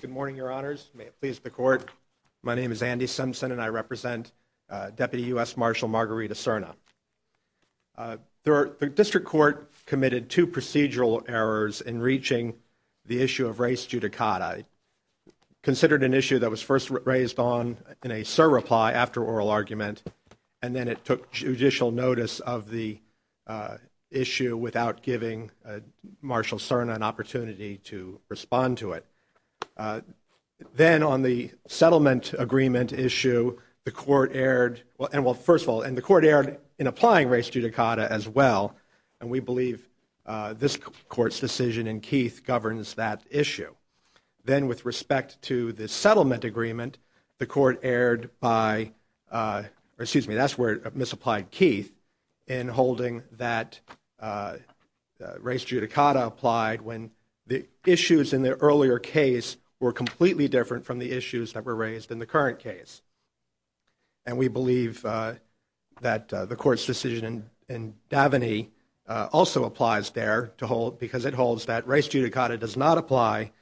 Good morning, Your Honors. May it please the Court. My name is Andy Simpson, and I represent Deputy U.S. Marshal Margarita Serna. The district court committed two procedural errors in reaching the issue of race judicata. It considered an issue that was first raised on in a surreply after oral argument, and then it took judicial notice of the issue without giving Marshal Serna an opportunity to respond to it. Then on the settlement agreement issue, the Court erred. Well, first of all, the Court erred in applying race judicata as well, and we believe this Court's decision in Keith governs that issue. Then with respect to the settlement agreement, the Court erred by, or excuse me, that's where it misapplied Keith in holding that race judicata applied when the issues in the earlier case were completely different from the issues that were raised in the current case. And we believe that the Court's decision in Daveney also applies there to hold, that race judicata does not apply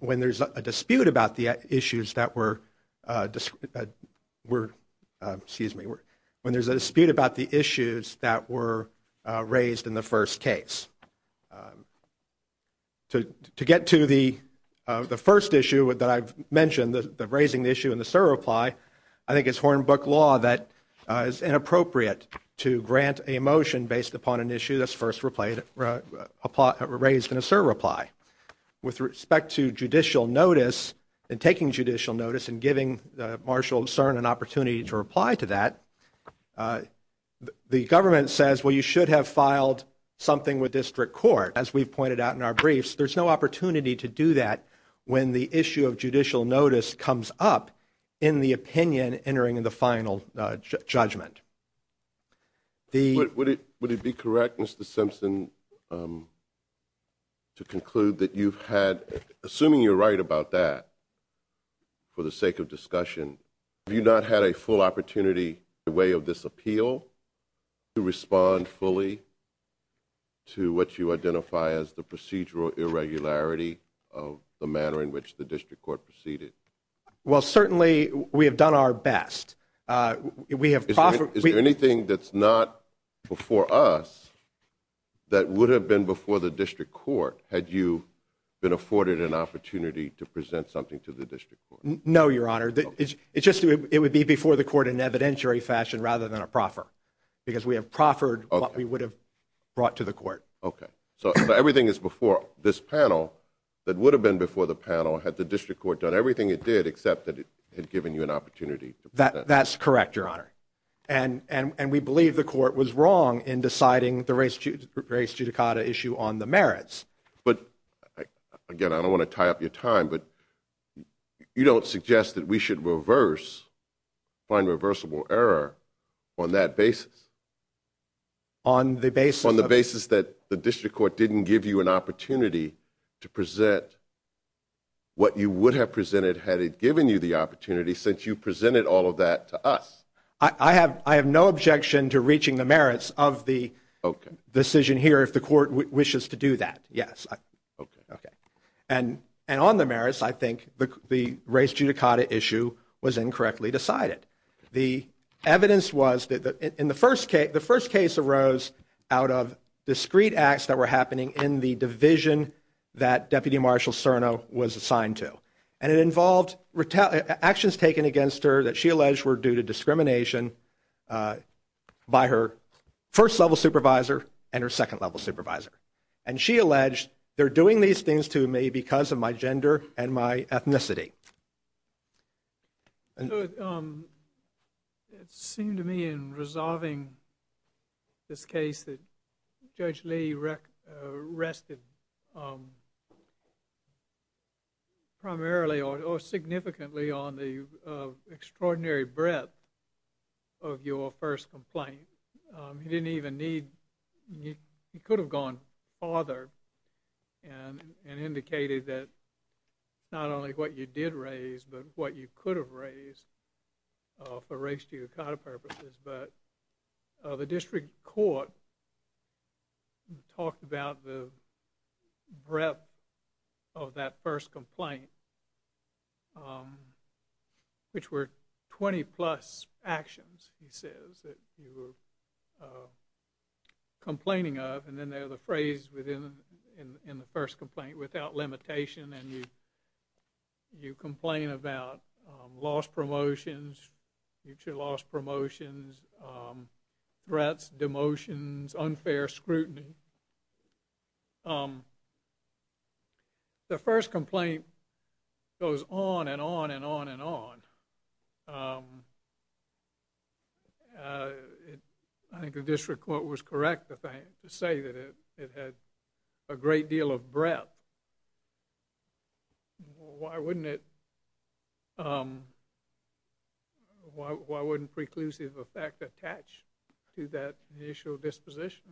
when there's a dispute about the issues that were raised in the first case. To get to the first issue that I've mentioned, the raising the issue in the surreply, I think it's hornbook law that is inappropriate to grant a motion based upon an issue that's first raised in a surreply. With respect to judicial notice and taking judicial notice and giving Marshal Serna an opportunity to reply to that, the government says, well, you should have filed something with district court. As we've pointed out in our briefs, there's no opportunity to do that when the issue of judicial notice comes up in the opinion entering in the final judgment. Would it be correct, Mr. Simpson, to conclude that you've had, assuming you're right about that, for the sake of discussion, have you not had a full opportunity in the way of this appeal to respond fully to what you identify as the procedural irregularity of the manner in which the district court proceeded? Well, certainly we have done our best. Is there anything that's not before us that would have been before the district court had you been afforded an opportunity to present something to the district court? No, Your Honor. It would be before the court in an evidentiary fashion rather than a proffer. Because we have proffered what we would have brought to the court. Okay. So everything is before this panel that would have been before the panel had the district court done everything it did except that it had given you an opportunity. That's correct, Your Honor. And we believe the court was wrong in deciding the race judicata issue on the merits. But, again, I don't want to tie up your time, but you don't suggest that we should reverse, find reversible error on that basis. On the basis of? On the basis that the district court didn't give you an opportunity to present what you would have presented had it given you the opportunity since you presented all of that to us. I have no objection to reaching the merits of the decision here if the court wishes to do that, yes. And on the merits, I think the race judicata issue was incorrectly decided. The evidence was that in the first case, the first case arose out of discreet acts that were happening in the division that Deputy Marshal Cerno was assigned to. And it involved actions taken against her that she alleged were due to discrimination by her first level supervisor and her second level supervisor. And she alleged, they're doing these things to me because of my gender and my ethnicity. It seemed to me in resolving this case that Judge Lee rested primarily or significantly on the extraordinary breadth of your first complaint. He didn't even need, he could have gone farther and indicated that not only what you did raise but what you could have raised for race judicata purposes. But the district court talked about the breadth of that first complaint, which were 20-plus actions, he says, that you were complaining of. And then there's a phrase in the first complaint, without limitation, and you complain about lost promotions, future lost promotions, threats, demotions, unfair scrutiny. The first complaint goes on and on and on and on. I think the district court was correct to say that it had a great deal of breadth. Why wouldn't it, why wouldn't preclusive effect attach to that initial disposition?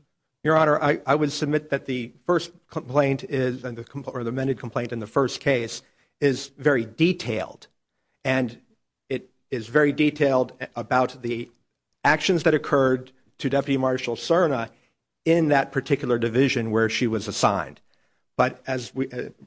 Your Honor, I would submit that the first complaint is, or the amended complaint in the first case, is very detailed. And it is very detailed about the actions that occurred to Deputy Marshal Serna in that particular division where she was assigned. But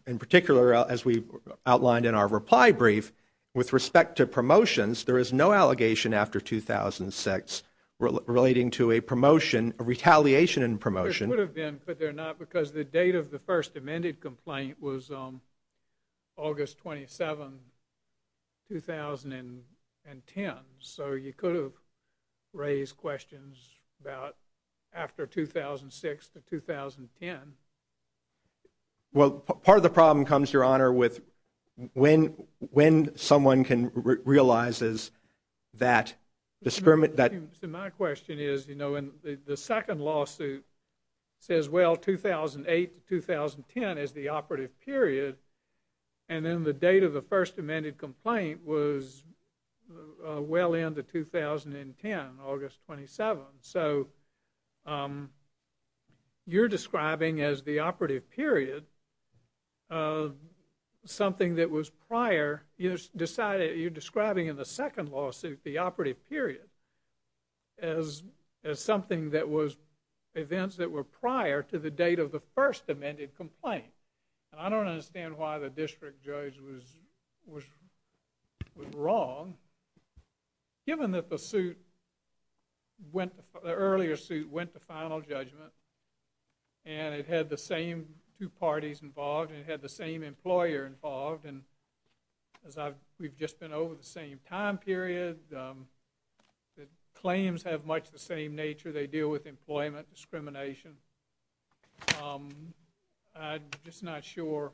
in particular, as we outlined in our reply brief, with respect to promotions, there is no allegation after 2006 relating to a promotion, a retaliation in promotion. There could have been, but there not, because the date of the first amended complaint was August 27, 2010. So you could have raised questions about after 2006 to 2010. Well, part of the problem comes, Your Honor, with when someone realizes that My question is, you know, the second lawsuit says, well, 2008 to 2010 is the operative period, and then the date of the first amended complaint was well into 2010, August 27. So you're describing as the operative period something that was prior, you're describing in the second lawsuit the operative period as something that was, events that were prior to the date of the first amended complaint. And I don't understand why the district judge was wrong, given that the suit went, the earlier suit went to final judgment, and it had the same two parties involved, and it had the same employer involved, and as I've, we've just been over the same time period, the claims have much the same nature, they deal with employment discrimination. I'm just not sure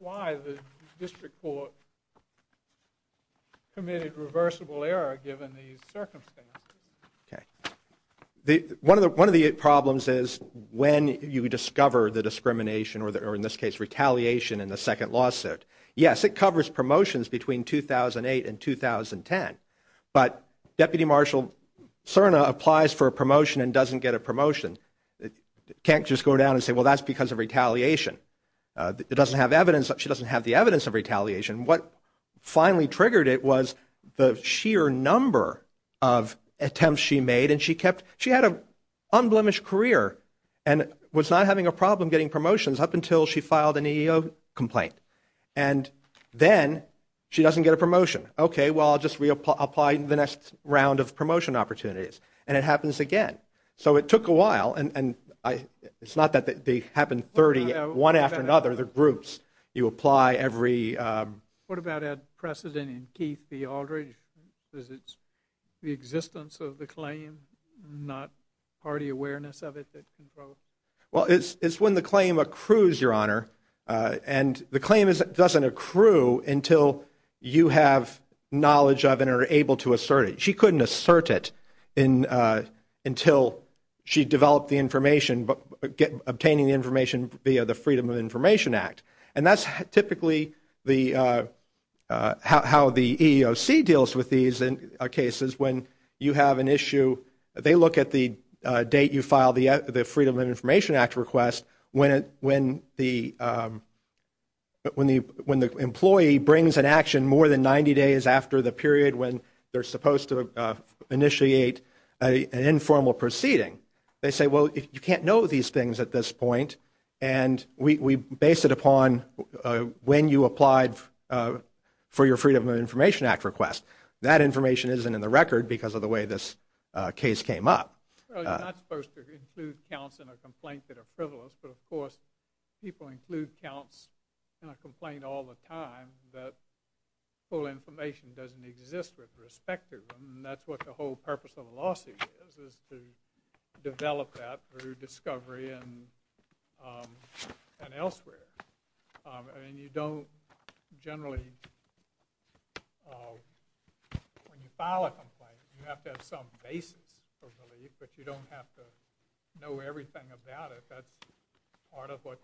why the district court committed reversible error given these circumstances. Okay. One of the problems is when you discover the discrimination, or in this case retaliation in the second lawsuit. Yes, it covers promotions between 2008 and 2010, but Deputy Marshal Cerna applies for a promotion and doesn't get a promotion. Can't just go down and say, well, that's because of retaliation. It doesn't have evidence, she doesn't have the evidence of retaliation. What finally triggered it was the sheer number of attempts she made, and she kept, she had an unblemished career, and was not having a problem getting promotions up until she filed an EEO complaint. And then she doesn't get a promotion. Okay, well, I'll just reapply in the next round of promotion opportunities. And it happens again. So it took a while, and it's not that they happen 30, one after another, they're groups. You apply every... What about precedent in Keith v. Aldridge? Is it the existence of the claim, not party awareness of it? Well, it's when the claim accrues, Your Honor, and the claim doesn't accrue until you have knowledge of it and are able to assert it. She couldn't assert it until she developed the information, obtaining the information via the Freedom of Information Act. And that's typically how the EEOC deals with these cases. When you have an issue, they look at the date you filed the Freedom of Information Act request when the employee brings an action more than 90 days after the period when they're supposed to initiate an informal proceeding. They say, well, you can't know these things at this point, and we base it upon when you applied for your Freedom of Information Act request. That information isn't in the record because of the way this case came up. Well, you're not supposed to include counts in a complaint that are frivolous, but, of course, people include counts in a complaint all the time that full information doesn't exist with respect to them, and that's what the whole purpose of a lawsuit is, is to develop that through discovery and elsewhere. And you don't generally... But you don't have to know everything about it. That's part of what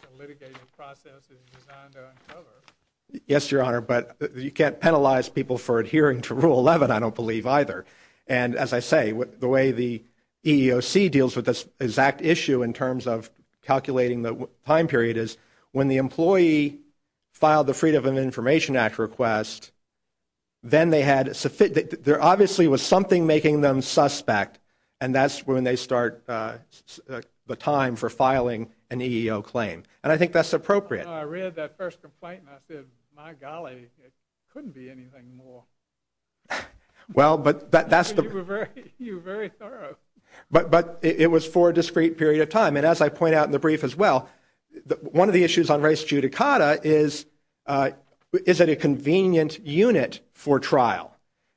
the litigating process is designed to uncover. Yes, Your Honor, but you can't penalize people for adhering to Rule 11, I don't believe, either. And, as I say, the way the EEOC deals with this exact issue in terms of calculating the time period is when the employee filed the Freedom of Information Act request, then there obviously was something making them suspect, and that's when they start the time for filing an EEO claim. And I think that's appropriate. I read that first complaint and I said, my golly, it couldn't be anything more. Well, but that's the... You were very thorough. But it was for a discrete period of time. And, as I point out in the brief as well, one of the issues on res judicata is, is it a convenient unit for trial?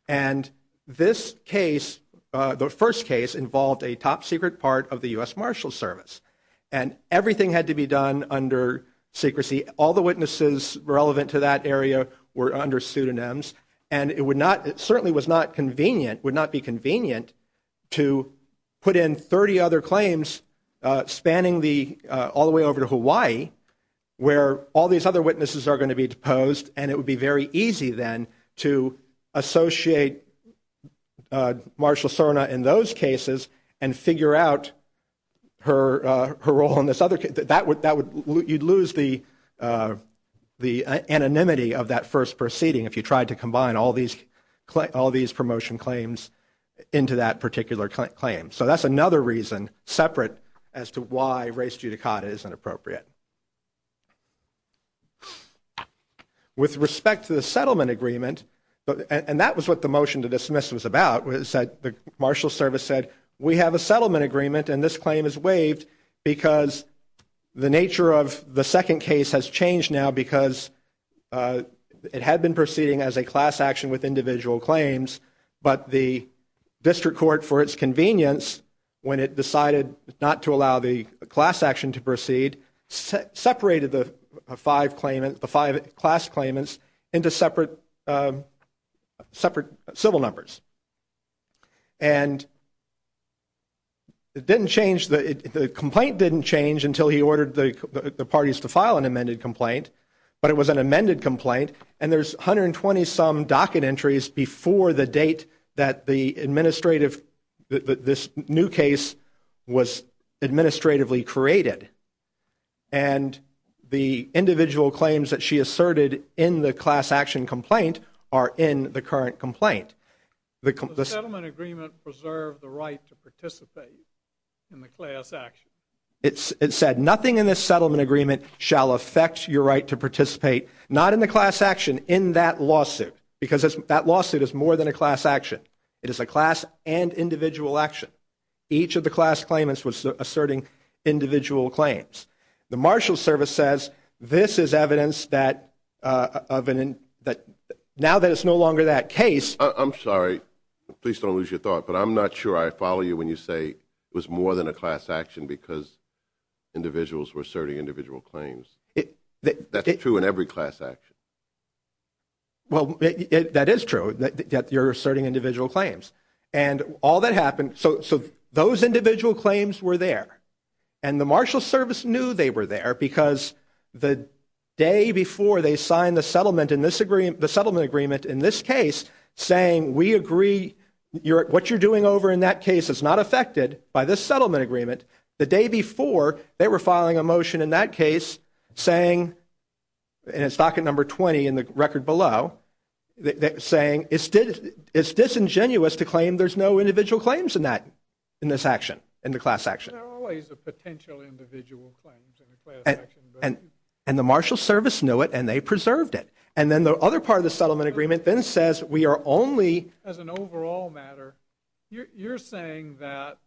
And this case, the first case, involved a top-secret part of the U.S. Marshals Service. And everything had to be done under secrecy. All the witnesses relevant to that area were under pseudonyms. And it certainly was not convenient, would not be convenient, to put in 30 other claims spanning all the way over to Hawaii where all these other witnesses are going to be deposed, and it would be very easy then to associate Marshal Serna in those cases and figure out her role in this other case. You'd lose the anonymity of that first proceeding if you tried to combine all these promotion claims into that particular claim. So that's another reason, separate, as to why res judicata isn't appropriate. With respect to the settlement agreement, and that was what the motion to dismiss was about, the Marshals Service said, we have a settlement agreement and this claim is waived because the nature of the second case has changed now because it had been proceeding as a class action with individual claims, but the district court, for its convenience, when it decided not to allow the class action to proceed, separated the five class claimants into separate civil numbers. And it didn't change, the complaint didn't change until he ordered the parties to file an amended complaint, but it was an amended complaint, and there's 120 some docket entries before the date that the administrative, that this new case was administratively created. And the individual claims that she asserted in the class action complaint are in the current complaint. The settlement agreement preserved the right to participate in the class action. It said, nothing in this settlement agreement shall affect your right to participate, not in the class action, in that lawsuit, because that lawsuit is more than a class action. It is a class and individual action. Each of the class claimants was asserting individual claims. The marshal service says, this is evidence that now that it's no longer that case. I'm sorry, please don't lose your thought, but I'm not sure I follow you when you say it was more than a class action because individuals were asserting individual claims. That's true in every class action. Well, that is true, that you're asserting individual claims. And all that happened, so those individual claims were there, and the marshal service knew they were there because the day before they signed the settlement in this agreement, the settlement agreement in this case saying, we agree what you're doing over in that case is not affected by this settlement agreement. The day before, they were filing a motion in that case saying, and it's docket number 20 in the record below, saying it's disingenuous to claim there's no individual claims in that, in this action, in the class action. There are always a potential individual claims in the class action. And the marshal service knew it, and they preserved it. And then the other part of the settlement agreement then says we are only. As an overall matter, you're saying that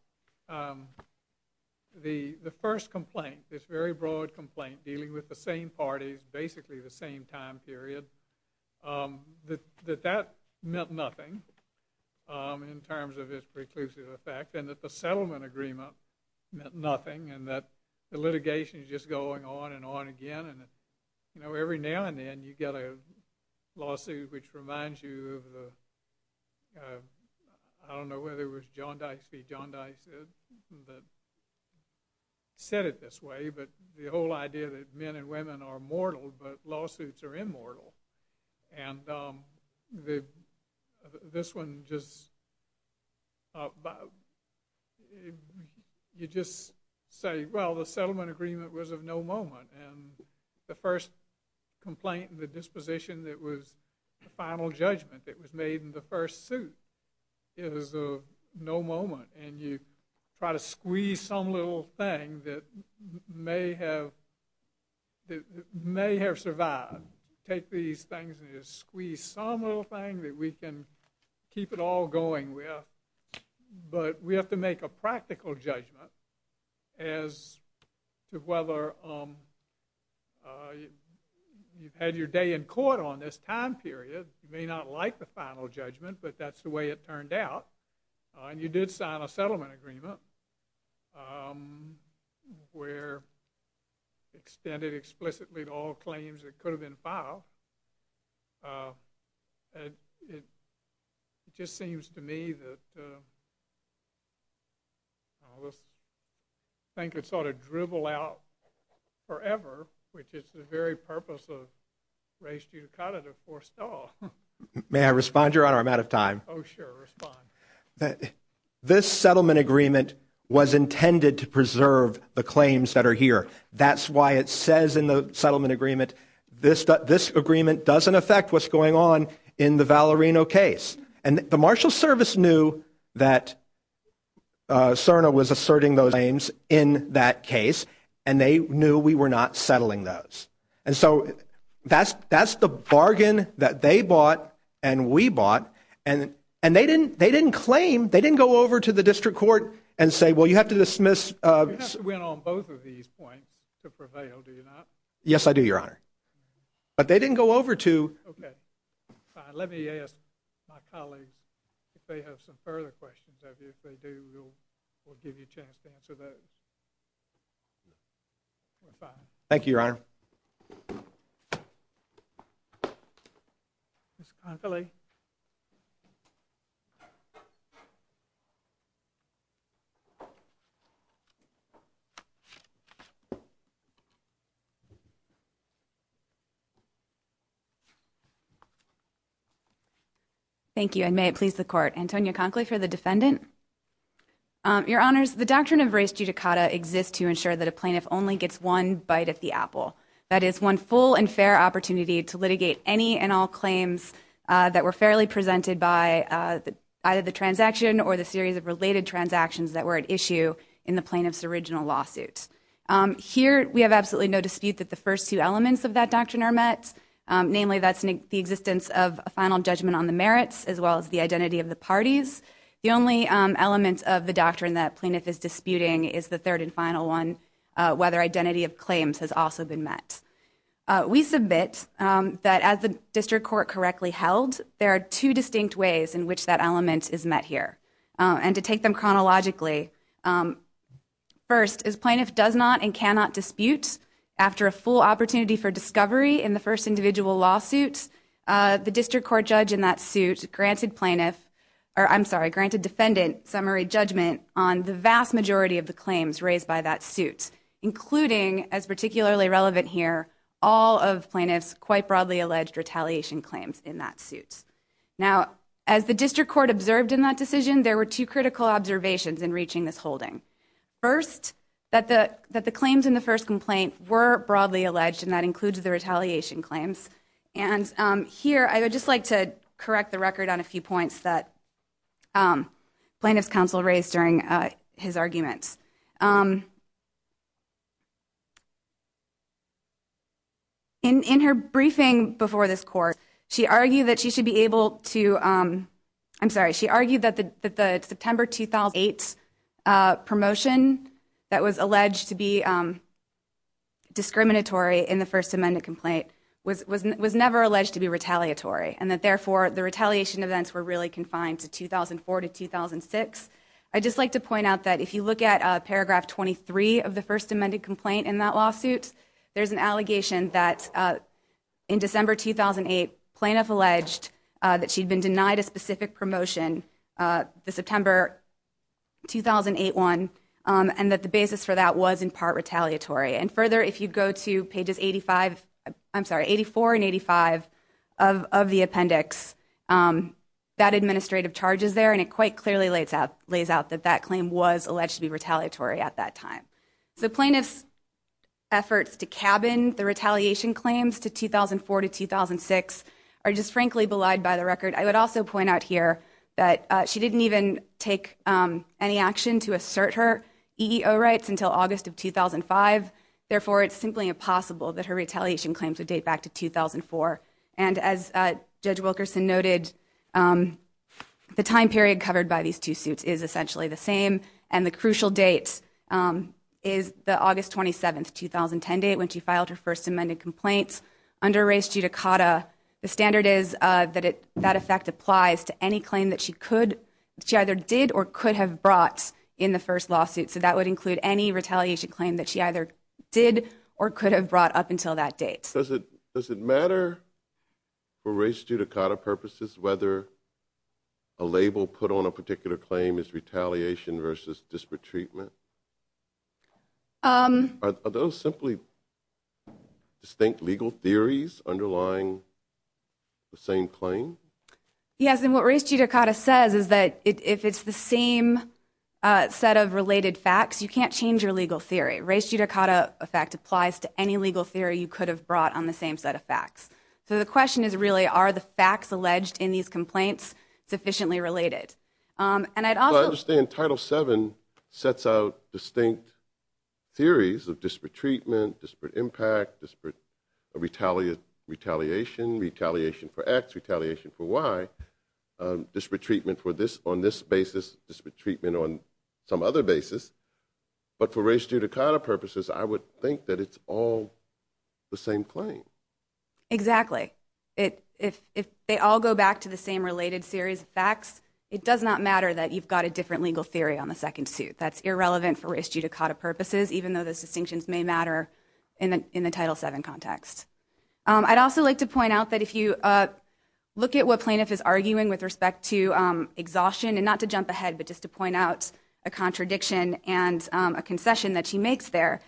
the first complaint, this very broad complaint dealing with the same parties, basically the same time period, that that meant nothing in terms of its preclusive effect, and that the settlement agreement meant nothing, and that the litigation is just going on and on again. And every now and then, you get a lawsuit which reminds you of the, I don't know whether it was John Dice v. John Dice that said it this way, but the whole idea that men and women are mortal, but lawsuits are immortal. And this one just, you just say, well, the settlement agreement was of no moment. And the first complaint and the disposition that was the final judgment that was made in the first suit is of no moment. And you try to squeeze some little thing that may have survived. Take these things and you squeeze some little thing that we can keep it all going with. But we have to make a practical judgment as to whether you've had your day in court on this time period. You may not like the final judgment, but that's the way it turned out. And you did sign a settlement agreement where it extended explicitly to all claims that could have been filed. And it just seems to me that this thing could sort of dribble out forever, which is the very purpose of race judicata to force it all. May I respond, Your Honor? I'm out of time. Oh, sure, respond. This settlement agreement was intended to preserve the claims that are here. That's why it says in the settlement agreement, this agreement doesn't affect what's going on in the Valerino case. And the Marshal Service knew that CERNA was asserting those claims in that case, and they knew we were not settling those. And so that's the bargain that they bought and we bought. And they didn't claim. They didn't go over to the district court and say, well, you have to dismiss. You have to win on both of these points to prevail, do you not? Yes, I do, Your Honor. But they didn't go over to. Okay, fine. Let me ask my colleagues if they have some further questions. If they do, we'll give you a chance to answer those. Thank you, Your Honor. Thank you, and may it please the Court. Antonia Conkley for the defendant. Your Honors, the doctrine of res judicata exists to ensure that a plaintiff only gets one bite at the apple. That is, one full and fair opportunity to litigate any and all claims that were fairly presented by either the transaction or the series of related transactions that were at issue in the plaintiff's original lawsuit. Here, we have absolutely no dispute that the first two elements of that doctrine are met. Namely, that's the existence of a final judgment on the merits as well as the identity of the parties. The only element of the doctrine that a plaintiff is disputing is the third and final one, whether identity of claims has also been met. We submit that as the district court correctly held, there are two distinct ways in which that element is met here. And to take them chronologically, first, as plaintiff does not and cannot dispute, after a full opportunity for discovery in the first individual lawsuit, the district court judge in that suit granted defendant summary judgment on the vast majority of the claims raised by that suit, including, as particularly relevant here, all of plaintiff's quite broadly alleged retaliation claims in that suit. Now, as the district court observed in that decision, there were two critical observations in reaching this holding. First, that the claims in the first complaint were broadly alleged, and that includes the retaliation claims. And here, I would just like to correct the record on a few points that plaintiff's counsel raised during his argument. In her briefing before this court, she argued that she should be able to – I'm sorry. was never alleged to be retaliatory, and that, therefore, the retaliation events were really confined to 2004 to 2006. I'd just like to point out that if you look at paragraph 23 of the first amended complaint in that lawsuit, there's an allegation that in December 2008, plaintiff alleged that she'd been denied a specific promotion the September 2008 one, and that the basis for that was in part retaliatory. And further, if you go to pages 85 – I'm sorry, 84 and 85 of the appendix, that administrative charge is there, and it quite clearly lays out that that claim was alleged to be retaliatory at that time. So plaintiff's efforts to cabin the retaliation claims to 2004 to 2006 are just frankly belied by the record. I would also point out here that she didn't even take any action to assert her EEO rights until August of 2005. Therefore, it's simply impossible that her retaliation claims would date back to 2004. And as Judge Wilkerson noted, the time period covered by these two suits is essentially the same, and the crucial date is the August 27, 2010 date when she filed her first amended complaint under race judicata. The standard is that that effect applies to any claim that she either did or could have brought in the first lawsuit. So that would include any retaliation claim that she either did or could have brought up until that date. Does it matter for race judicata purposes whether a label put on a particular claim is retaliation versus disparate treatment? Are those simply distinct legal theories underlying the same claim? Yes, and what race judicata says is that if it's the same set of related facts, you can't change your legal theory. Race judicata effect applies to any legal theory you could have brought on the same set of facts. So the question is really are the facts alleged in these complaints sufficiently related? Well, I understand Title VII sets out distinct theories of disparate treatment, disparate impact, retaliation for X, retaliation for Y, disparate treatment on this basis, disparate treatment on some other basis. But for race judicata purposes, I would think that it's all the same claim. Exactly. If they all go back to the same related series of facts, it does not matter that you've got a different legal theory on the second suit. That's irrelevant for race judicata purposes, even though those distinctions may matter in the Title VII context. I'd also like to point out that if you look at what plaintiff is arguing with respect to exhaustion, and not to jump ahead but just to point out a contradiction and a concession that she makes there,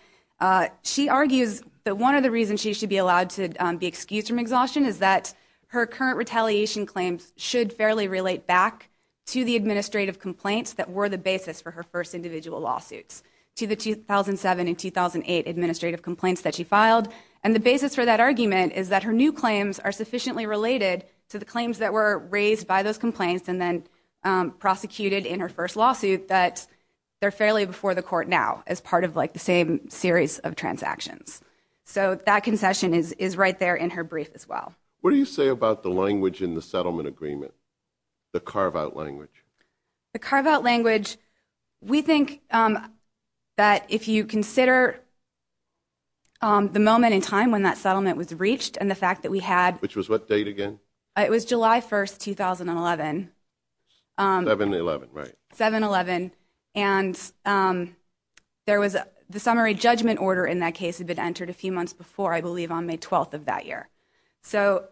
she argues that one of the reasons she should be allowed to be excused from exhaustion is that her current retaliation claims should fairly relate back to the administrative complaints that were the basis for her first individual lawsuits, to the 2007 and 2008 administrative complaints that she filed. And the basis for that argument is that her new claims are sufficiently related to the claims that were raised by those complaints and then prosecuted in her first lawsuit that they're fairly before the court now as part of the same series of transactions. So that concession is right there in her brief as well. What do you say about the language in the settlement agreement, the carve-out language? The carve-out language, we think that if you consider the moment in time when that settlement was reached and the fact that we had... Which was what date again? It was July 1st, 2011. 7-11, right. 7-11. And the summary judgment order in that case had been entered a few months before, I believe on May 12th of that year. So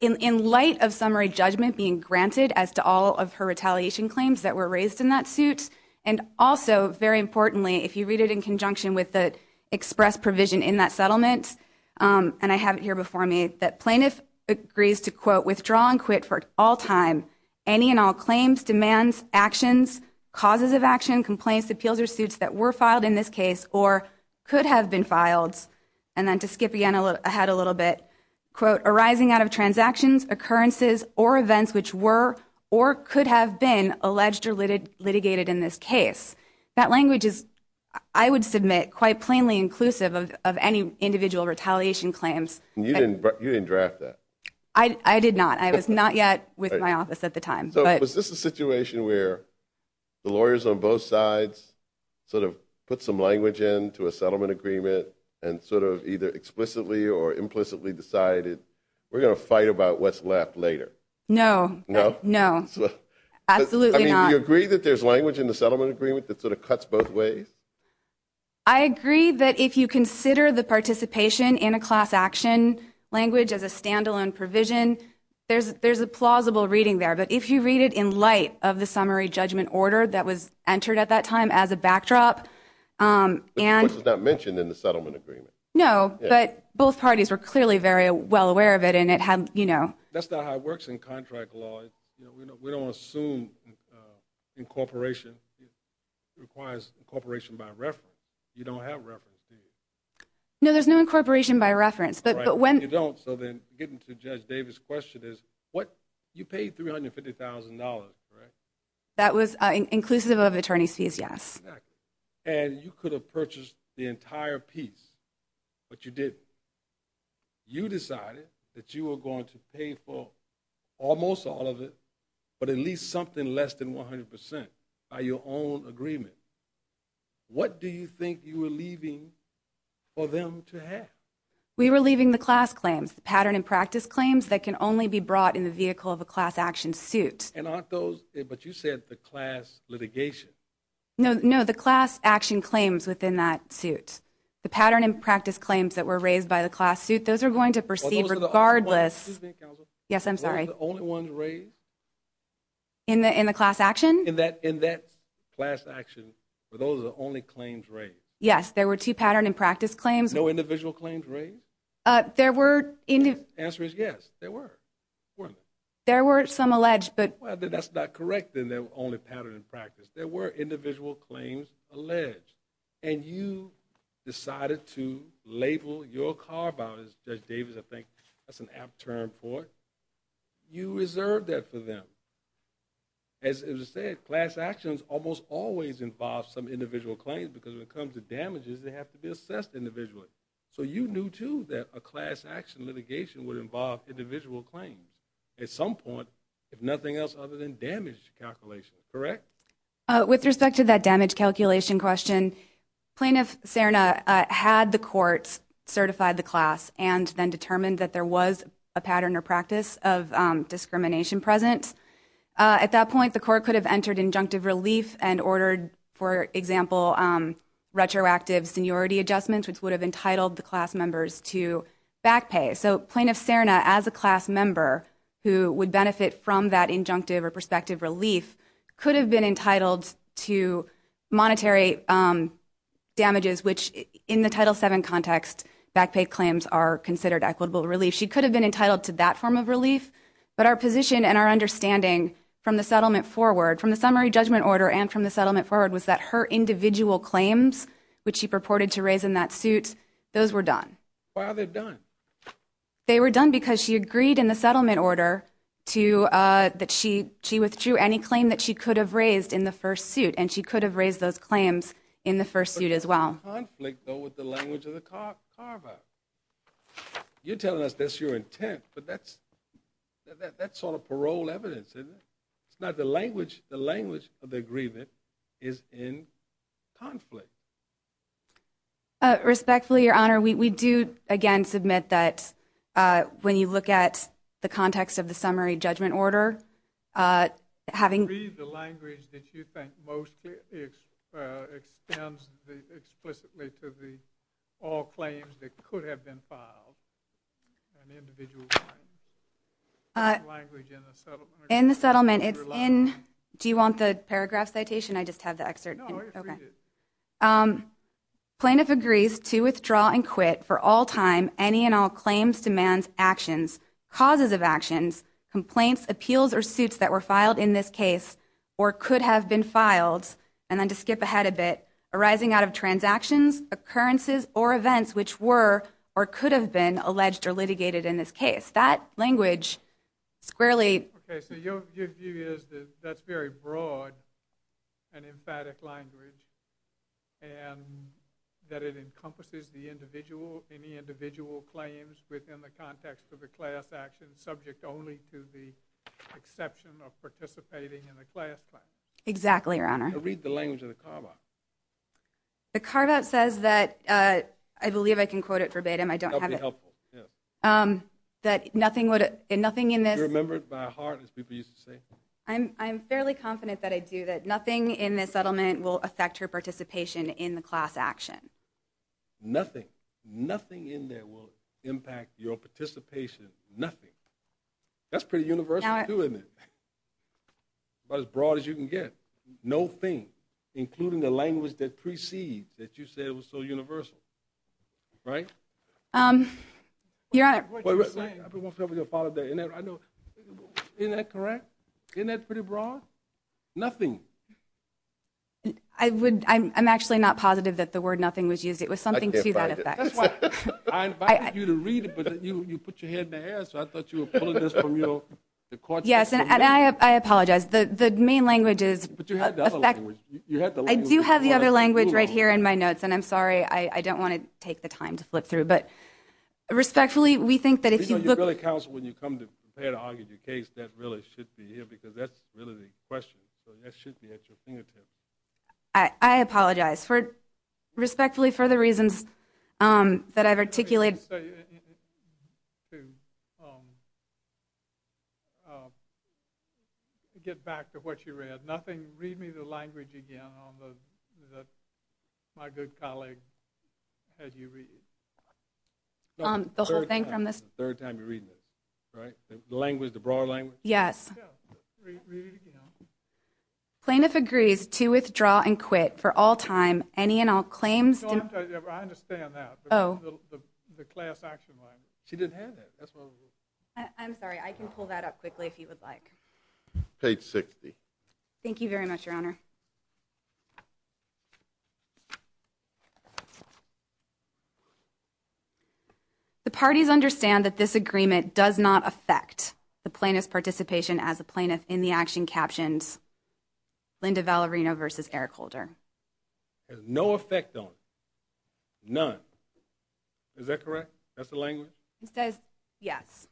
in light of summary judgment being granted as to all of her retaliation claims that were raised in that suit, and also, very importantly, if you read it in conjunction with the express provision in that settlement, and I have it here before me, that plaintiff agrees to, quote, withdraw and quit for all time, any and all claims, demands, actions, causes of action, complaints, appeals, or suits that were filed in this case or could have been filed, and then to skip ahead a little bit, quote, arising out of transactions, occurrences, or events which were or could have been alleged or litigated in this case. That language is, I would submit, quite plainly inclusive of any individual retaliation claims. And you didn't draft that? I did not. I was not yet with my office at the time. So was this a situation where the lawyers on both sides sort of put some language in to a settlement agreement and sort of either explicitly or implicitly decided we're going to fight about what's left later? No. No? No. Absolutely not. So you agree that there's language in the settlement agreement that sort of cuts both ways? I agree that if you consider the participation in a class action language as a stand-alone provision, there's a plausible reading there. But if you read it in light of the summary judgment order that was entered at that time as a backdrop and ‑‑ Which was not mentioned in the settlement agreement. No, but both parties were clearly very well aware of it, and it had, you know. That's not how it works in contract law. You know, we don't assume incorporation requires incorporation by reference. You don't have reference, do you? No, there's no incorporation by reference. Right, but you don't. So then getting to Judge Davis' question is, you paid $350,000, right? That was inclusive of attorney's fees, yes. Exactly. And you could have purchased the entire piece, but you didn't. You decided that you were going to pay for almost all of it, but at least something less than 100% by your own agreement. What do you think you were leaving for them to have? We were leaving the class claims, the pattern and practice claims that can only be brought in the vehicle of a class action suit. But you said the class litigation. No, the class action claims within that suit. The pattern and practice claims that were raised by the class suit, those are going to proceed regardless. Excuse me, Counselor. Yes, I'm sorry. Were those the only ones raised? In the class action? In that class action, were those the only claims raised? Yes, there were two pattern and practice claims. No individual claims raised? The answer is yes, there were. There were some alleged, but. That's not correct in the only pattern and practice. There were individual claims alleged. And you decided to label your car violation, Judge Davis, I think that's an apt term for it. You reserved that for them. As I said, class actions almost always involve some individual claims because when it comes to damages, they have to be assessed individually. So you knew, too, that a class action litigation would involve individual claims at some point, if nothing else other than damage calculation, correct? With respect to that damage calculation question, Plaintiff Serna had the courts certify the class and then determine that there was a pattern or practice of discrimination present. At that point, the court could have entered injunctive relief and ordered, for example, retroactive seniority adjustments, which would have entitled the class members to back pay. So Plaintiff Serna, as a class member, who would benefit from that injunctive or prospective relief, could have been entitled to monetary damages, which in the Title VII context back pay claims are considered equitable relief. She could have been entitled to that form of relief, but our position and our understanding from the settlement forward, from the summary judgment order and from the settlement forward, was that her individual claims, which she purported to raise in that suit, those were done. Why were they done? They were done because she agreed in the settlement order that she withdrew any claim that she could have raised in the first suit, and she could have raised those claims in the first suit as well. But there's a conflict, though, with the language of the carve-out. You're telling us that's your intent, but that's sort of parole evidence, isn't it? It's not the language. The language of the agreement is in conflict. Respectfully, Your Honor, we do, again, submit that when you look at the context of the summary judgment order, having read the language that you think most extends explicitly to all claims that could have been filed, an individual claim, that language in the settlement agreement. In the settlement, it's in – do you want the paragraph citation? I just have the excerpt. No, it's read. Plaintiff agrees to withdraw and quit for all time any and all claims, demands, actions, causes of actions, complaints, appeals, or suits that were filed in this case or could have been filed, and then to skip ahead a bit, arising out of transactions, occurrences, or events which were or could have been alleged or litigated in this case. That language squarely – and that it encompasses the individual, any individual claims within the context of the class action, subject only to the exception of participating in the class claim. Exactly, Your Honor. Read the language of the carve-out. The carve-out says that – I believe I can quote it verbatim. That would be helpful, yes. That nothing in this – Do you remember it by heart, as people used to say? I'm fairly confident that I do, will affect her participation in the class action. Nothing. Nothing in there will impact your participation. Nothing. That's pretty universal, too, isn't it? About as broad as you can get. No thing, including the language that precedes, that you said was so universal. Right? Your Honor – Wait, wait, wait, wait. I don't want people to follow that. Isn't that correct? Isn't that pretty broad? Nothing. I'm actually not positive that the word nothing was used. It was something to that effect. I invited you to read it, but you put your head in the air, so I thought you were pulling this from your – Yes, and I apologize. The main language is – But you had the other language. I do have the other language right here in my notes, and I'm sorry. I don't want to take the time to flip through. Respectfully, we think that if you look – You know, you really counsel when you come to prepare to argue your case. That really should be here, because that's really the question. So that should be at your fingertips. I apologize. Respectfully, for the reasons that I've articulated – Let me just tell you, to get back to what you read, nothing – read me the language again that my good colleague had you read. The whole thing from this – The third time you're reading it, right? The language, the broad language? Yes. Read it again. Plaintiff agrees to withdraw and quit for all time. Any and all claims – I understand that. Oh. The class action language. She didn't have that. That's what it was. I'm sorry. I can pull that up quickly if you would like. Page 60. Thank you very much, Your Honor. Thank you, Your Honor. The parties understand that this agreement does not affect the plaintiff's participation as a plaintiff in the action captioned Linda Valerino v. Eric Holder. Has no effect on it. None. Is that correct? That's the language? It says yes.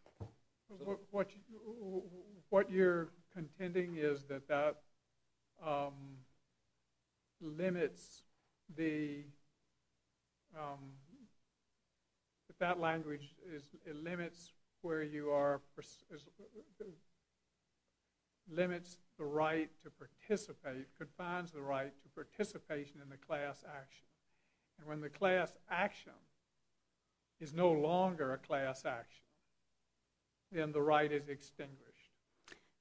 What you're contending is that that limits the – that that language is – it limits where you are – limits the right to participate, confines the right to participation in the class action. And when the class action is no longer a class action, then the right is extinguished.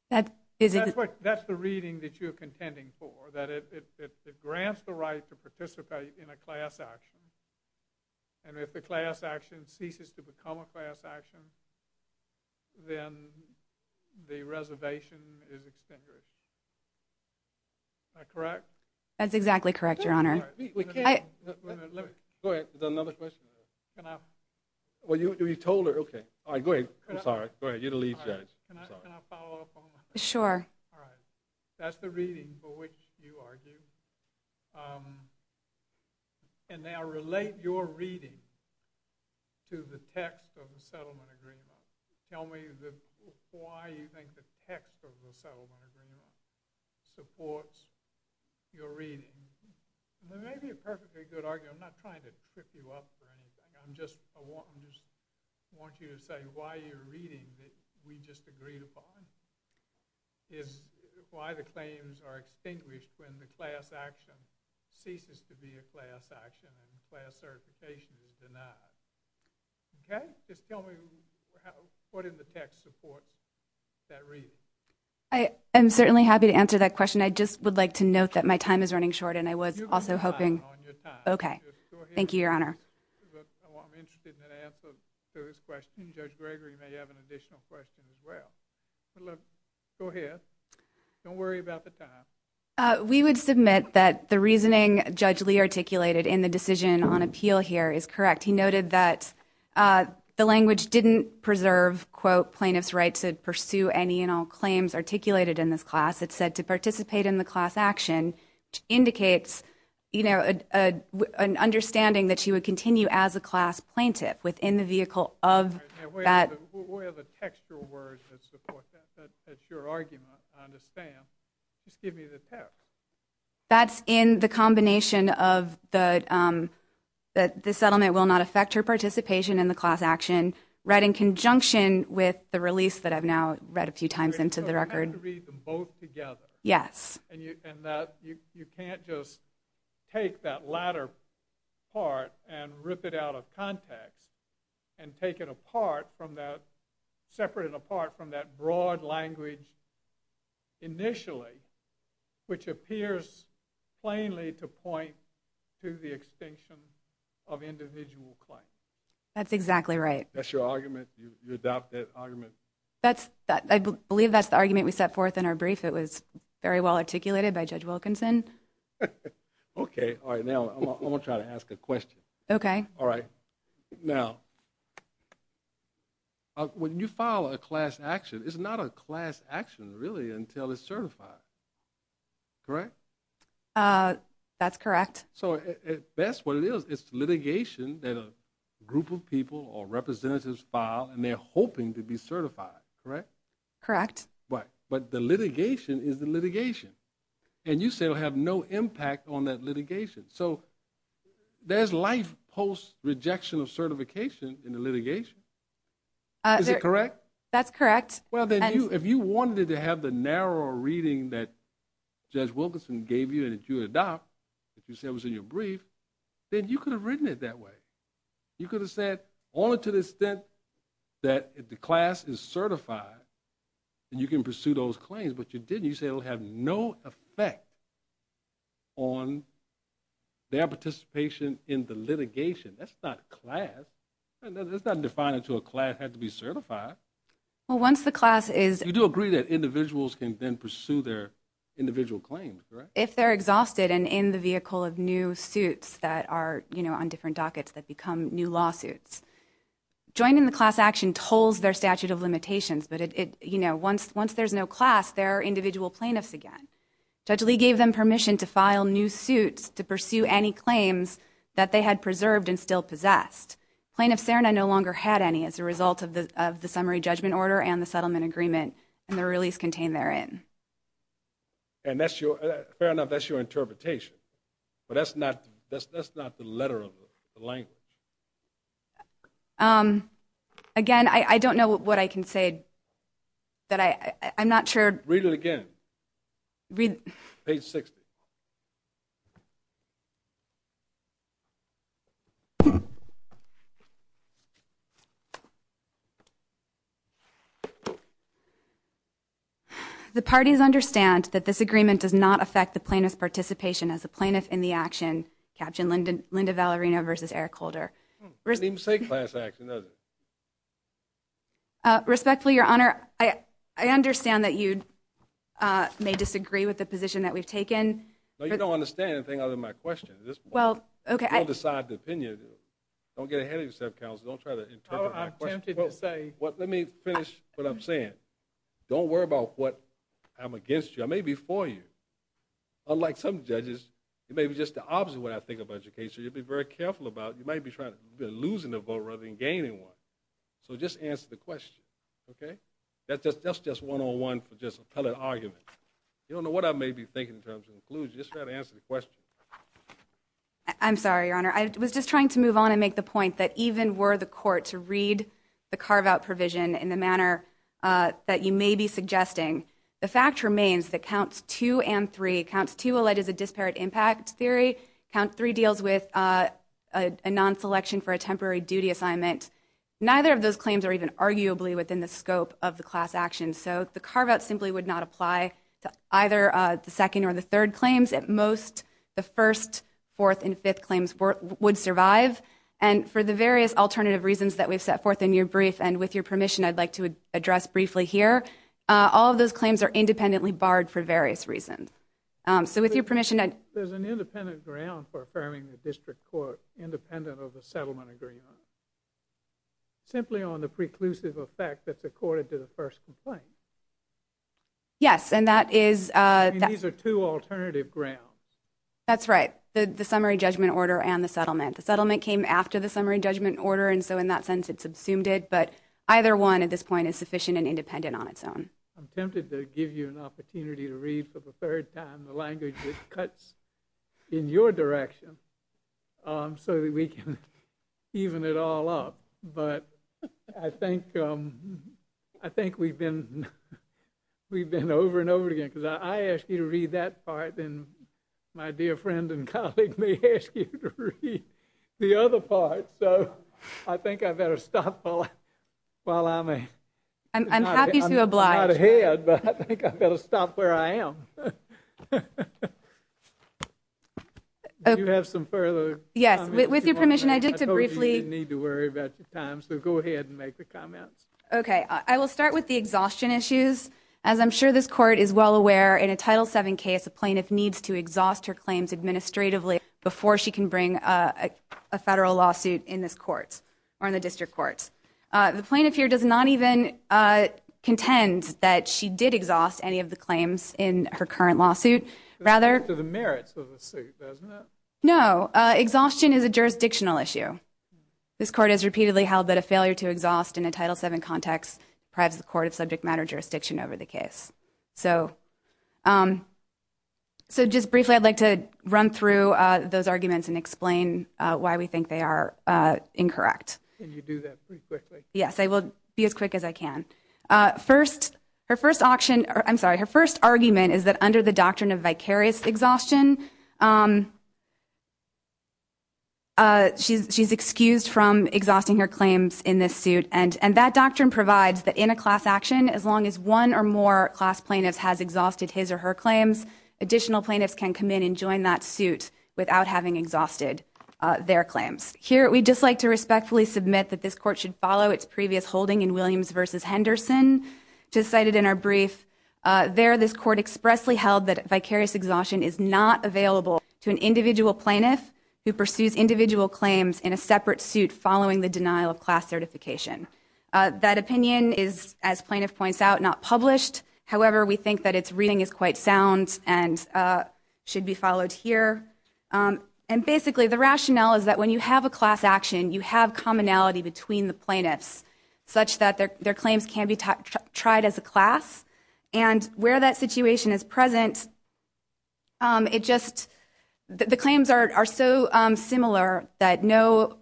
That is – That's what – that's the reading that you're contending for, that it grants the right to participate in a class action, and if the class action ceases to become a class action, then the reservation is extinguished. Is that correct? That's exactly correct, Your Honor. Go ahead. Is there another question? Can I – Well, you told her. Okay. All right, go ahead. I'm sorry. Go ahead. You're the lead judge. Can I follow up on that? Sure. All right. That's the reading for which you argue. And now relate your reading to the text of the settlement agreement. Tell me why you think the text of the settlement agreement supports your reading. It may be a perfectly good argument. I'm not trying to trip you up or anything. I'm just – I want you to say why your reading that we just agreed upon is why the claims are extinguished when the class action ceases to be a class action and class certification is denied. Okay? Just tell me what in the text supports that reading. I am certainly happy to answer that question. I just would like to note that my time is running short and I was also hoping – You can rely on your time. Okay. Go ahead. Thank you, Your Honor. I'm interested in that answer to his question. Judge Gregory may have an additional question as well. Go ahead. Don't worry about the time. We would submit that the reasoning Judge Lee articulated in the decision on appeal here is correct. He noted that the language didn't preserve, quote, plaintiff's right to pursue any and all claims articulated in this class. It said to participate in the class action indicates, you know, an understanding that she would continue as a class plaintiff within the vehicle of that. Where are the textual words that support that? That's your argument, I understand. Just give me the text. That's in the combination of the settlement will not affect her participation in the class action, right in conjunction with the release that I've now read a few times into the record. You have to read them both together. Yes. And you can't just take that latter part and rip it out of context and take it apart from that – separate it apart from that broad language initially, which appears plainly to point to the extinction of individual claims. That's exactly right. That's your argument? You adopt that argument? I believe that's the argument we set forth in our brief. It was very well articulated by Judge Wilkinson. Okay. All right, now I'm going to try to ask a question. Okay. All right. Now, when you file a class action, it's not a class action really until it's certified, correct? That's correct. So that's what it is. It's litigation that a group of people or representatives file, and they're hoping to be certified, correct? Correct. Right. But the litigation is the litigation. And you say it will have no impact on that litigation. So there's life post-rejection of certification in the litigation. Is it correct? That's correct. Well, then, if you wanted it to have the narrower reading that Judge Wilkinson gave you and that you adopt, if you said it was in your brief, then you could have written it that way. You could have said only to the extent that the class is certified, and you can pursue those claims. But you didn't. You said it will have no effect on their participation in the litigation. That's not class. It's not defined until a class has to be certified. Well, once the class is ---- You do agree that individuals can then pursue their individual claims, correct? If they're exhausted and in the vehicle of new suits that are on different dockets that become new lawsuits. Joining the class action tolls their statute of limitations. But once there's no class, there are individual plaintiffs again. Judge Lee gave them permission to file new suits to pursue any claims that they had preserved and still possessed. Plaintiff Serna no longer had any as a result of the summary judgment order and the settlement agreement and the release contained therein. And that's your ---- Fair enough, that's your interpretation. But that's not the letter of the language. Again, I don't know what I can say. I'm not sure. Read it again. Page 60. The parties understand that this agreement does not affect the plaintiff's participation as a plaintiff in the action, captioned Linda Valerino versus Eric Holder. It doesn't even say class action, does it? Respectfully, Your Honor, I understand that you may disagree with the position that we've taken. No, you don't understand anything other than my question at this point. You don't decide the opinion. Don't get ahead of yourself, counsel. Don't try to interpret my question. Let me finish what I'm saying. Don't worry about what I'm against you. I may be for you. Unlike some judges, it may be just the opposite of what I think about your case. You'll be very careful about it. You might be losing a vote rather than gaining one. So just answer the question, okay? That's just one-on-one for just appellate argument. You don't know what I may be thinking in terms of inclusion. Just try to answer the question. I'm sorry, Your Honor. I was just trying to move on and make the point that even were the court to read the carve-out provision in the manner that you may be suggesting, the fact remains that Counts 2 and 3, Counts 2 alleges a disparate impact theory. Count 3 deals with a non-selection for a temporary duty assignment. Neither of those claims are even arguably within the scope of the class action. So the carve-out simply would not apply to either the second or the third claims. At most, the first, fourth, and fifth claims would survive. And for the various alternative reasons that we've set forth in your brief and with your permission, I'd like to address briefly here, all of those claims are independently barred for various reasons. So with your permission, I'd – There's an independent ground for affirming the district court independent of a settlement agreement. Simply on the preclusive effect that's accorded to the first complaint. Yes, and that is – These are two alternative grounds. That's right. The summary judgment order and the settlement. The settlement came after the summary judgment order, and so in that sense it subsumed it. But either one at this point is sufficient and independent on its own. I'm tempted to give you an opportunity to read for the third time the language that cuts in your direction so that we can even it all up. But I think we've been over and over again, because if I ask you to read that part, then my dear friend and colleague may ask you to read the other part. So I think I better stop while I'm – I'm happy to oblige. I'm not ahead, but I think I better stop where I am. Do you have some further comments? Yes. With your permission, I'd like to briefly – I told you you didn't need to worry about your time, so go ahead and make the comments. Okay. I will start with the exhaustion issues. As I'm sure this court is well aware, in a Title VII case, a plaintiff needs to exhaust her claims administratively before she can bring a federal lawsuit in this court or in the district courts. The plaintiff here does not even contend that she did exhaust any of the claims in her current lawsuit. Rather – That goes to the merits of the suit, doesn't it? No. Exhaustion is a jurisdictional issue. This court has repeatedly held that a failure to exhaust in a Title VII context prides the court of subject matter jurisdiction over the case. So just briefly, I'd like to run through those arguments and explain why we think they are incorrect. Can you do that pretty quickly? Yes, I will be as quick as I can. First, her first argument is that under the doctrine of vicarious exhaustion, she's excused from exhausting her claims in this suit. And that doctrine provides that in a class action, as long as one or more class plaintiffs has exhausted his or her claims, additional plaintiffs can come in and join that suit without having exhausted their claims. Here, we'd just like to respectfully submit that this court should follow its previous holding in Williams v. Henderson, just cited in our brief. There, this court expressly held that vicarious exhaustion is not available to an individual plaintiff who pursues individual claims in a separate suit following the denial of class certification. That opinion is, as plaintiff points out, not published. However, we think that its reading is quite sound and should be followed here. And basically, the rationale is that when you have a class action, you have commonality between the plaintiffs, such that their claims can be tried as a class. And where that situation is present, the claims are so similar that no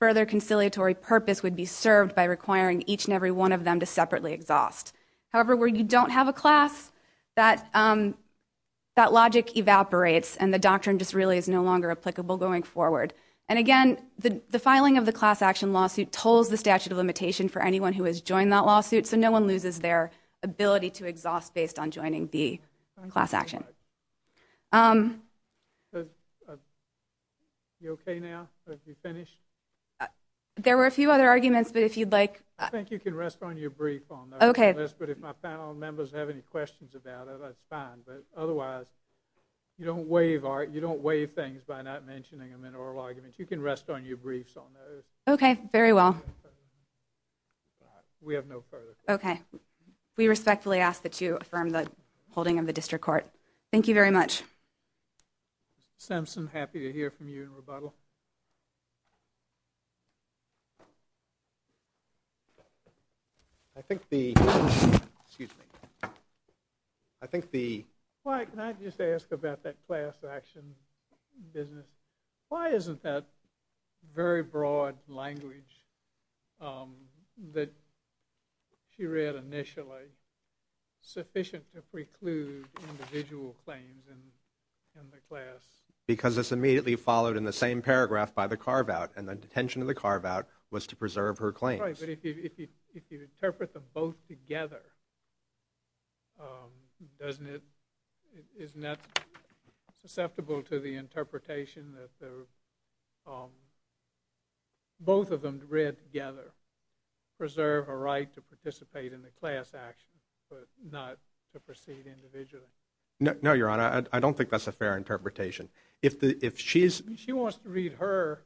further conciliatory purpose would be served by requiring each and every one of them to separately exhaust. However, where you don't have a class, that logic evaporates and the doctrine just really is no longer applicable going forward. And again, the filing of the class action lawsuit tolls the statute of limitation for anyone who has joined that lawsuit, so no one loses their ability to exhaust based on joining the class action. You okay now? Have you finished? There were a few other arguments, but if you'd like... I think you can rest on your brief on that. Okay. But if my panel members have any questions about it, that's fine. But otherwise, you don't waive things by not mentioning them in oral arguments. You can rest on your briefs on those. Okay. Very well. We have no further... Okay. We respectfully ask that you affirm the holding of the district court. Thank you very much. Simpson, happy to hear from you in rebuttal. I think the... Excuse me. I think the... Can I just ask about that class action business? Why isn't that very broad language that she read initially sufficient to preclude individual claims in the class? Because it's immediately followed in the same paragraph by the carve-out, and the intention of the carve-out was to preserve her claims. That's right, but if you interpret them both together, isn't that susceptible to the interpretation that both of them read together, preserve her right to participate in the class action, but not to proceed individually? No, Your Honor. I don't think that's a fair interpretation. If she's... You want to read your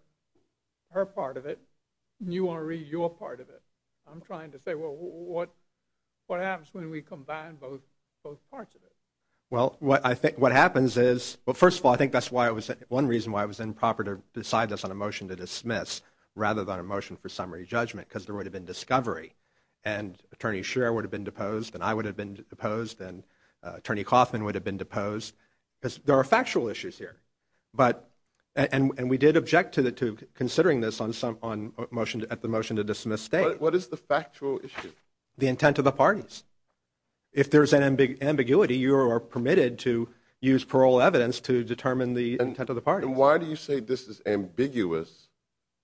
part of it. I'm trying to say, well, what happens when we combine both parts of it? Well, what happens is, well, first of all, I think that's one reason why it was improper to decide this on a motion to dismiss rather than a motion for summary judgment, because there would have been discovery, and Attorney Scheer would have been deposed, and I would have been deposed, and Attorney Kaufman would have been deposed. There are factual issues here, and we did object to considering this at the motion to dismiss state. What is the factual issue? The intent of the parties. If there's an ambiguity, you are permitted to use parole evidence to determine the intent of the parties. And why do you say this is ambiguous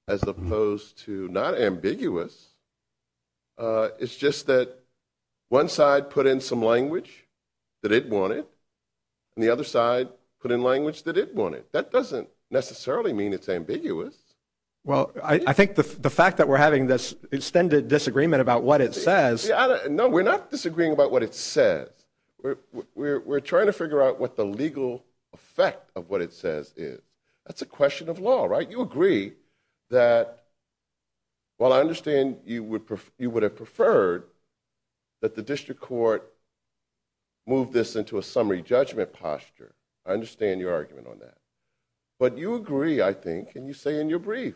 as opposed to not ambiguous? It's just that one side put in some language that it wanted, and the other side put in language that it wanted. That doesn't necessarily mean it's ambiguous. Well, I think the fact that we're having this extended disagreement about what it says... No, we're not disagreeing about what it says. We're trying to figure out what the legal effect of what it says is. That's a question of law, right? move this into a summary judgment posture. I understand your argument on that. But you agree, I think, and you say in your brief,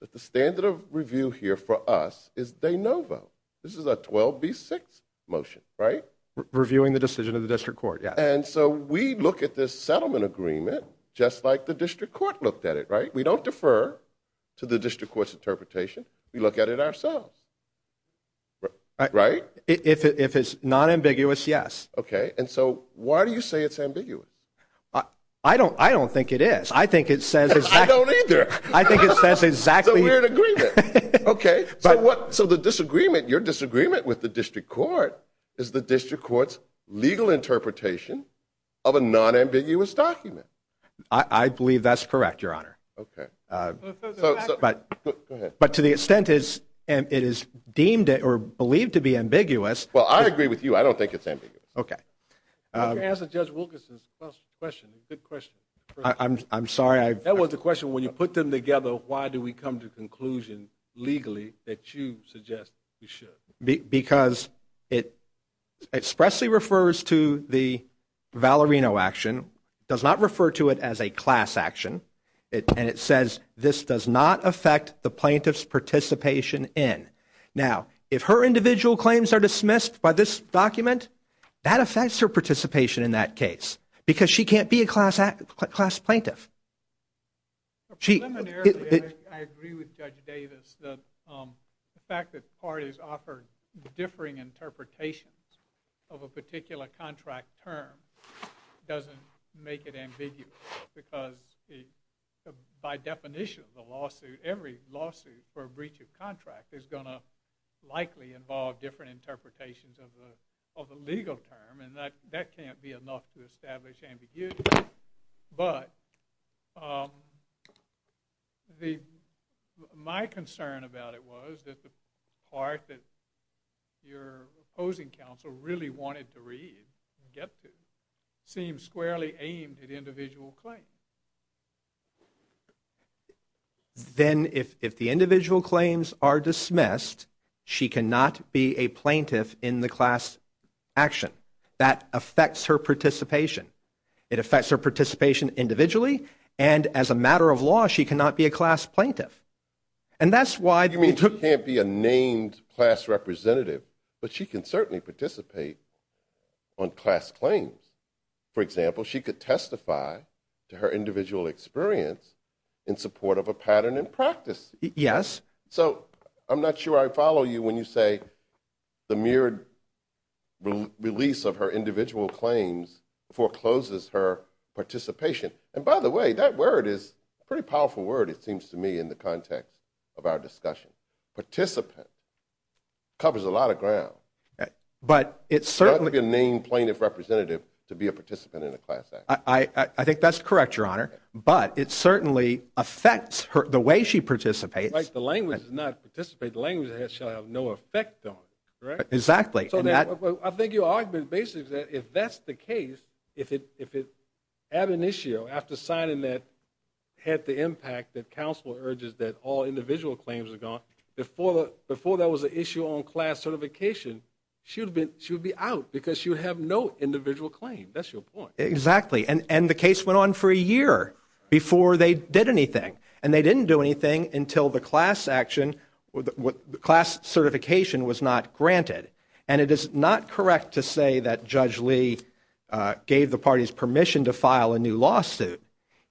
that the standard of review here for us is de novo. This is a 12B6 motion, right? Reviewing the decision of the district court, yeah. And so we look at this settlement agreement just like the district court looked at it, right? We don't defer to the district court's interpretation. We look at it ourselves, right? If it's non-ambiguous, yes. Okay. And so why do you say it's ambiguous? I don't think it is. I think it says exactly... I don't either. I think it says exactly... So we're in agreement. Okay. So the disagreement, your disagreement with the district court, is the district court's legal interpretation of a non-ambiguous document. I believe that's correct, Your Honor. Okay. Go ahead. But to the extent it is deemed or believed to be ambiguous... Well, I agree with you. I don't think it's ambiguous. Okay. Answer Judge Wilkerson's question. It's a good question. I'm sorry. That was the question. When you put them together, why do we come to the conclusion legally that you suggest we should? Because it expressly refers to the Valerino action, does not refer to it as a class action, and it says this does not affect the plaintiff's participation in. Now, if her individual claims are dismissed by this document, that affects her participation in that case because she can't be a class plaintiff. Preliminarily, I agree with Judge Davis. The fact that parties offer differing interpretations of a particular contract term doesn't make it ambiguous because by definition of the lawsuit, every lawsuit for a breach of contract is going to likely involve different interpretations of the legal term, and that can't be enough to establish ambiguity. But my concern about it was that the part that your opposing counsel really wanted to read, get to, seems squarely aimed at individual claims. Then if the individual claims are dismissed, she cannot be a plaintiff in the class action. That affects her participation. It affects her participation individually, and as a matter of law, she cannot be a class plaintiff. You mean she can't be a named class representative, but she can certainly participate on class claims. For example, she could testify to her individual experience in support of a pattern in practice. Yes. So I'm not sure I follow you when you say the mere release of her individual claims forecloses her participation. And by the way, that word is a pretty powerful word, it seems to me, in the context of our discussion. Participant covers a lot of ground. But it certainly... You can't give a named plaintiff representative to be a participant in a class action. I think that's correct, Your Honor, but it certainly affects the way she participates. Right, the language is not participate, the language shall have no effect on it, correct? Exactly. I think your argument basically is that if that's the case, if it ab initio, after signing that, had the impact that counsel urges that all individual claims are gone, before there was an issue on class certification, she would be out because she would have no individual claim. That's your point. Exactly, and the case went on for a year before they did anything. And they didn't do anything until the class action, the class certification was not granted. And it is not correct to say that Judge Lee gave the parties permission to file a new lawsuit.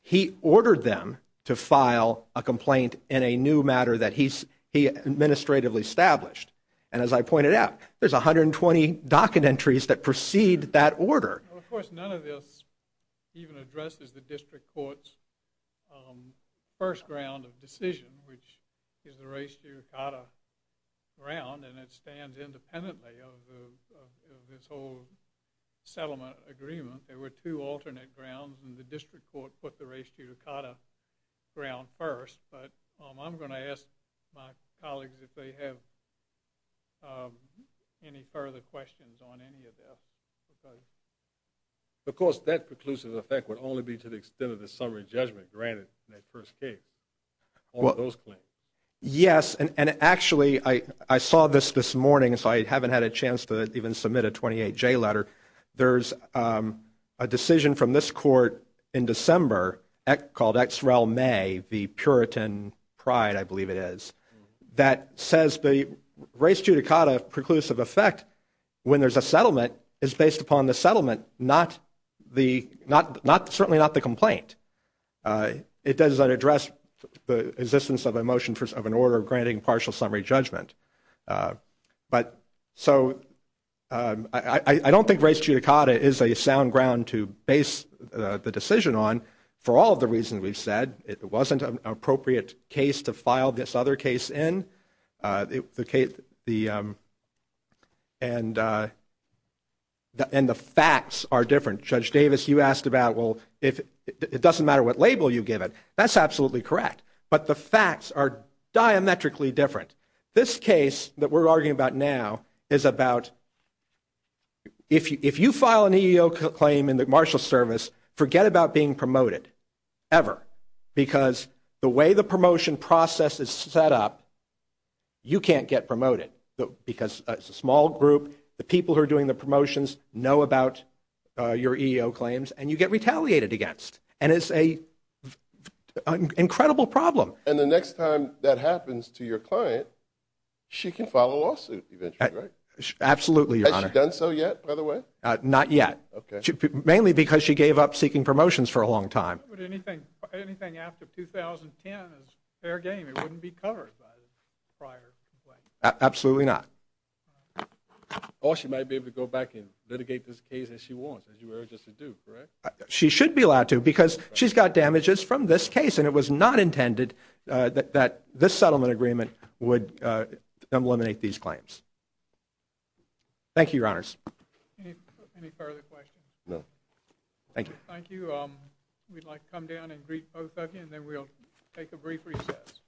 He ordered them to file a complaint in a new matter that he administratively established. And as I pointed out, there's 120 docket entries that precede that order. Of course, none of this even addresses the district court's first ground of decision, which is the race to your cotta ground, and it stands independently of this whole settlement agreement. There were two alternate grounds, and the district court put the race to your cotta ground first, but I'm going to ask my colleagues if they have any further questions on any of this. Of course, that preclusive effect would only be to the extent of the summary judgment granted in that first case on those claims. Yes, and actually, I saw this this morning, so I haven't had a chance to even submit a 28J letter. There's a decision from this court in December called Ex Rel May, the Puritan Pride, I believe it is, that says the race to your cotta preclusive effect when there's a settlement is based upon the settlement, certainly not the complaint. It doesn't address the existence of a motion of an order granting partial summary judgment. But so I don't think race to your cotta is a sound ground to base the decision on for all of the reasons we've said. It wasn't an appropriate case to file this other case in. And the facts are different. Judge Davis, you asked about, well, it doesn't matter what label you give it. That's absolutely correct, but the facts are diametrically different. This case that we're arguing about now is about if you file an EEO claim in the Marshals Service, forget about being promoted, ever. Because the way the promotion process is set up, you can't get promoted. Because it's a small group, the people who are doing the promotions know about your EEO claims, and you get retaliated against. And it's an incredible problem. And the next time that happens to your client, she can file a lawsuit eventually, right? Absolutely, Your Honor. Has she done so yet, by the way? Not yet. Mainly because she gave up seeking promotions for a long time. Anything after 2010 is fair game. It wouldn't be covered by the prior complaint. Absolutely not. Or she might be able to go back and litigate this case as she wants, as you urged us to do, correct? She should be allowed to because she's got damages from this case, and it was not intended that this settlement agreement would eliminate these claims. Thank you, Your Honors. Any further questions? No. Thank you. Thank you. We'd like to come down and greet both of you, and then we'll take a brief recess.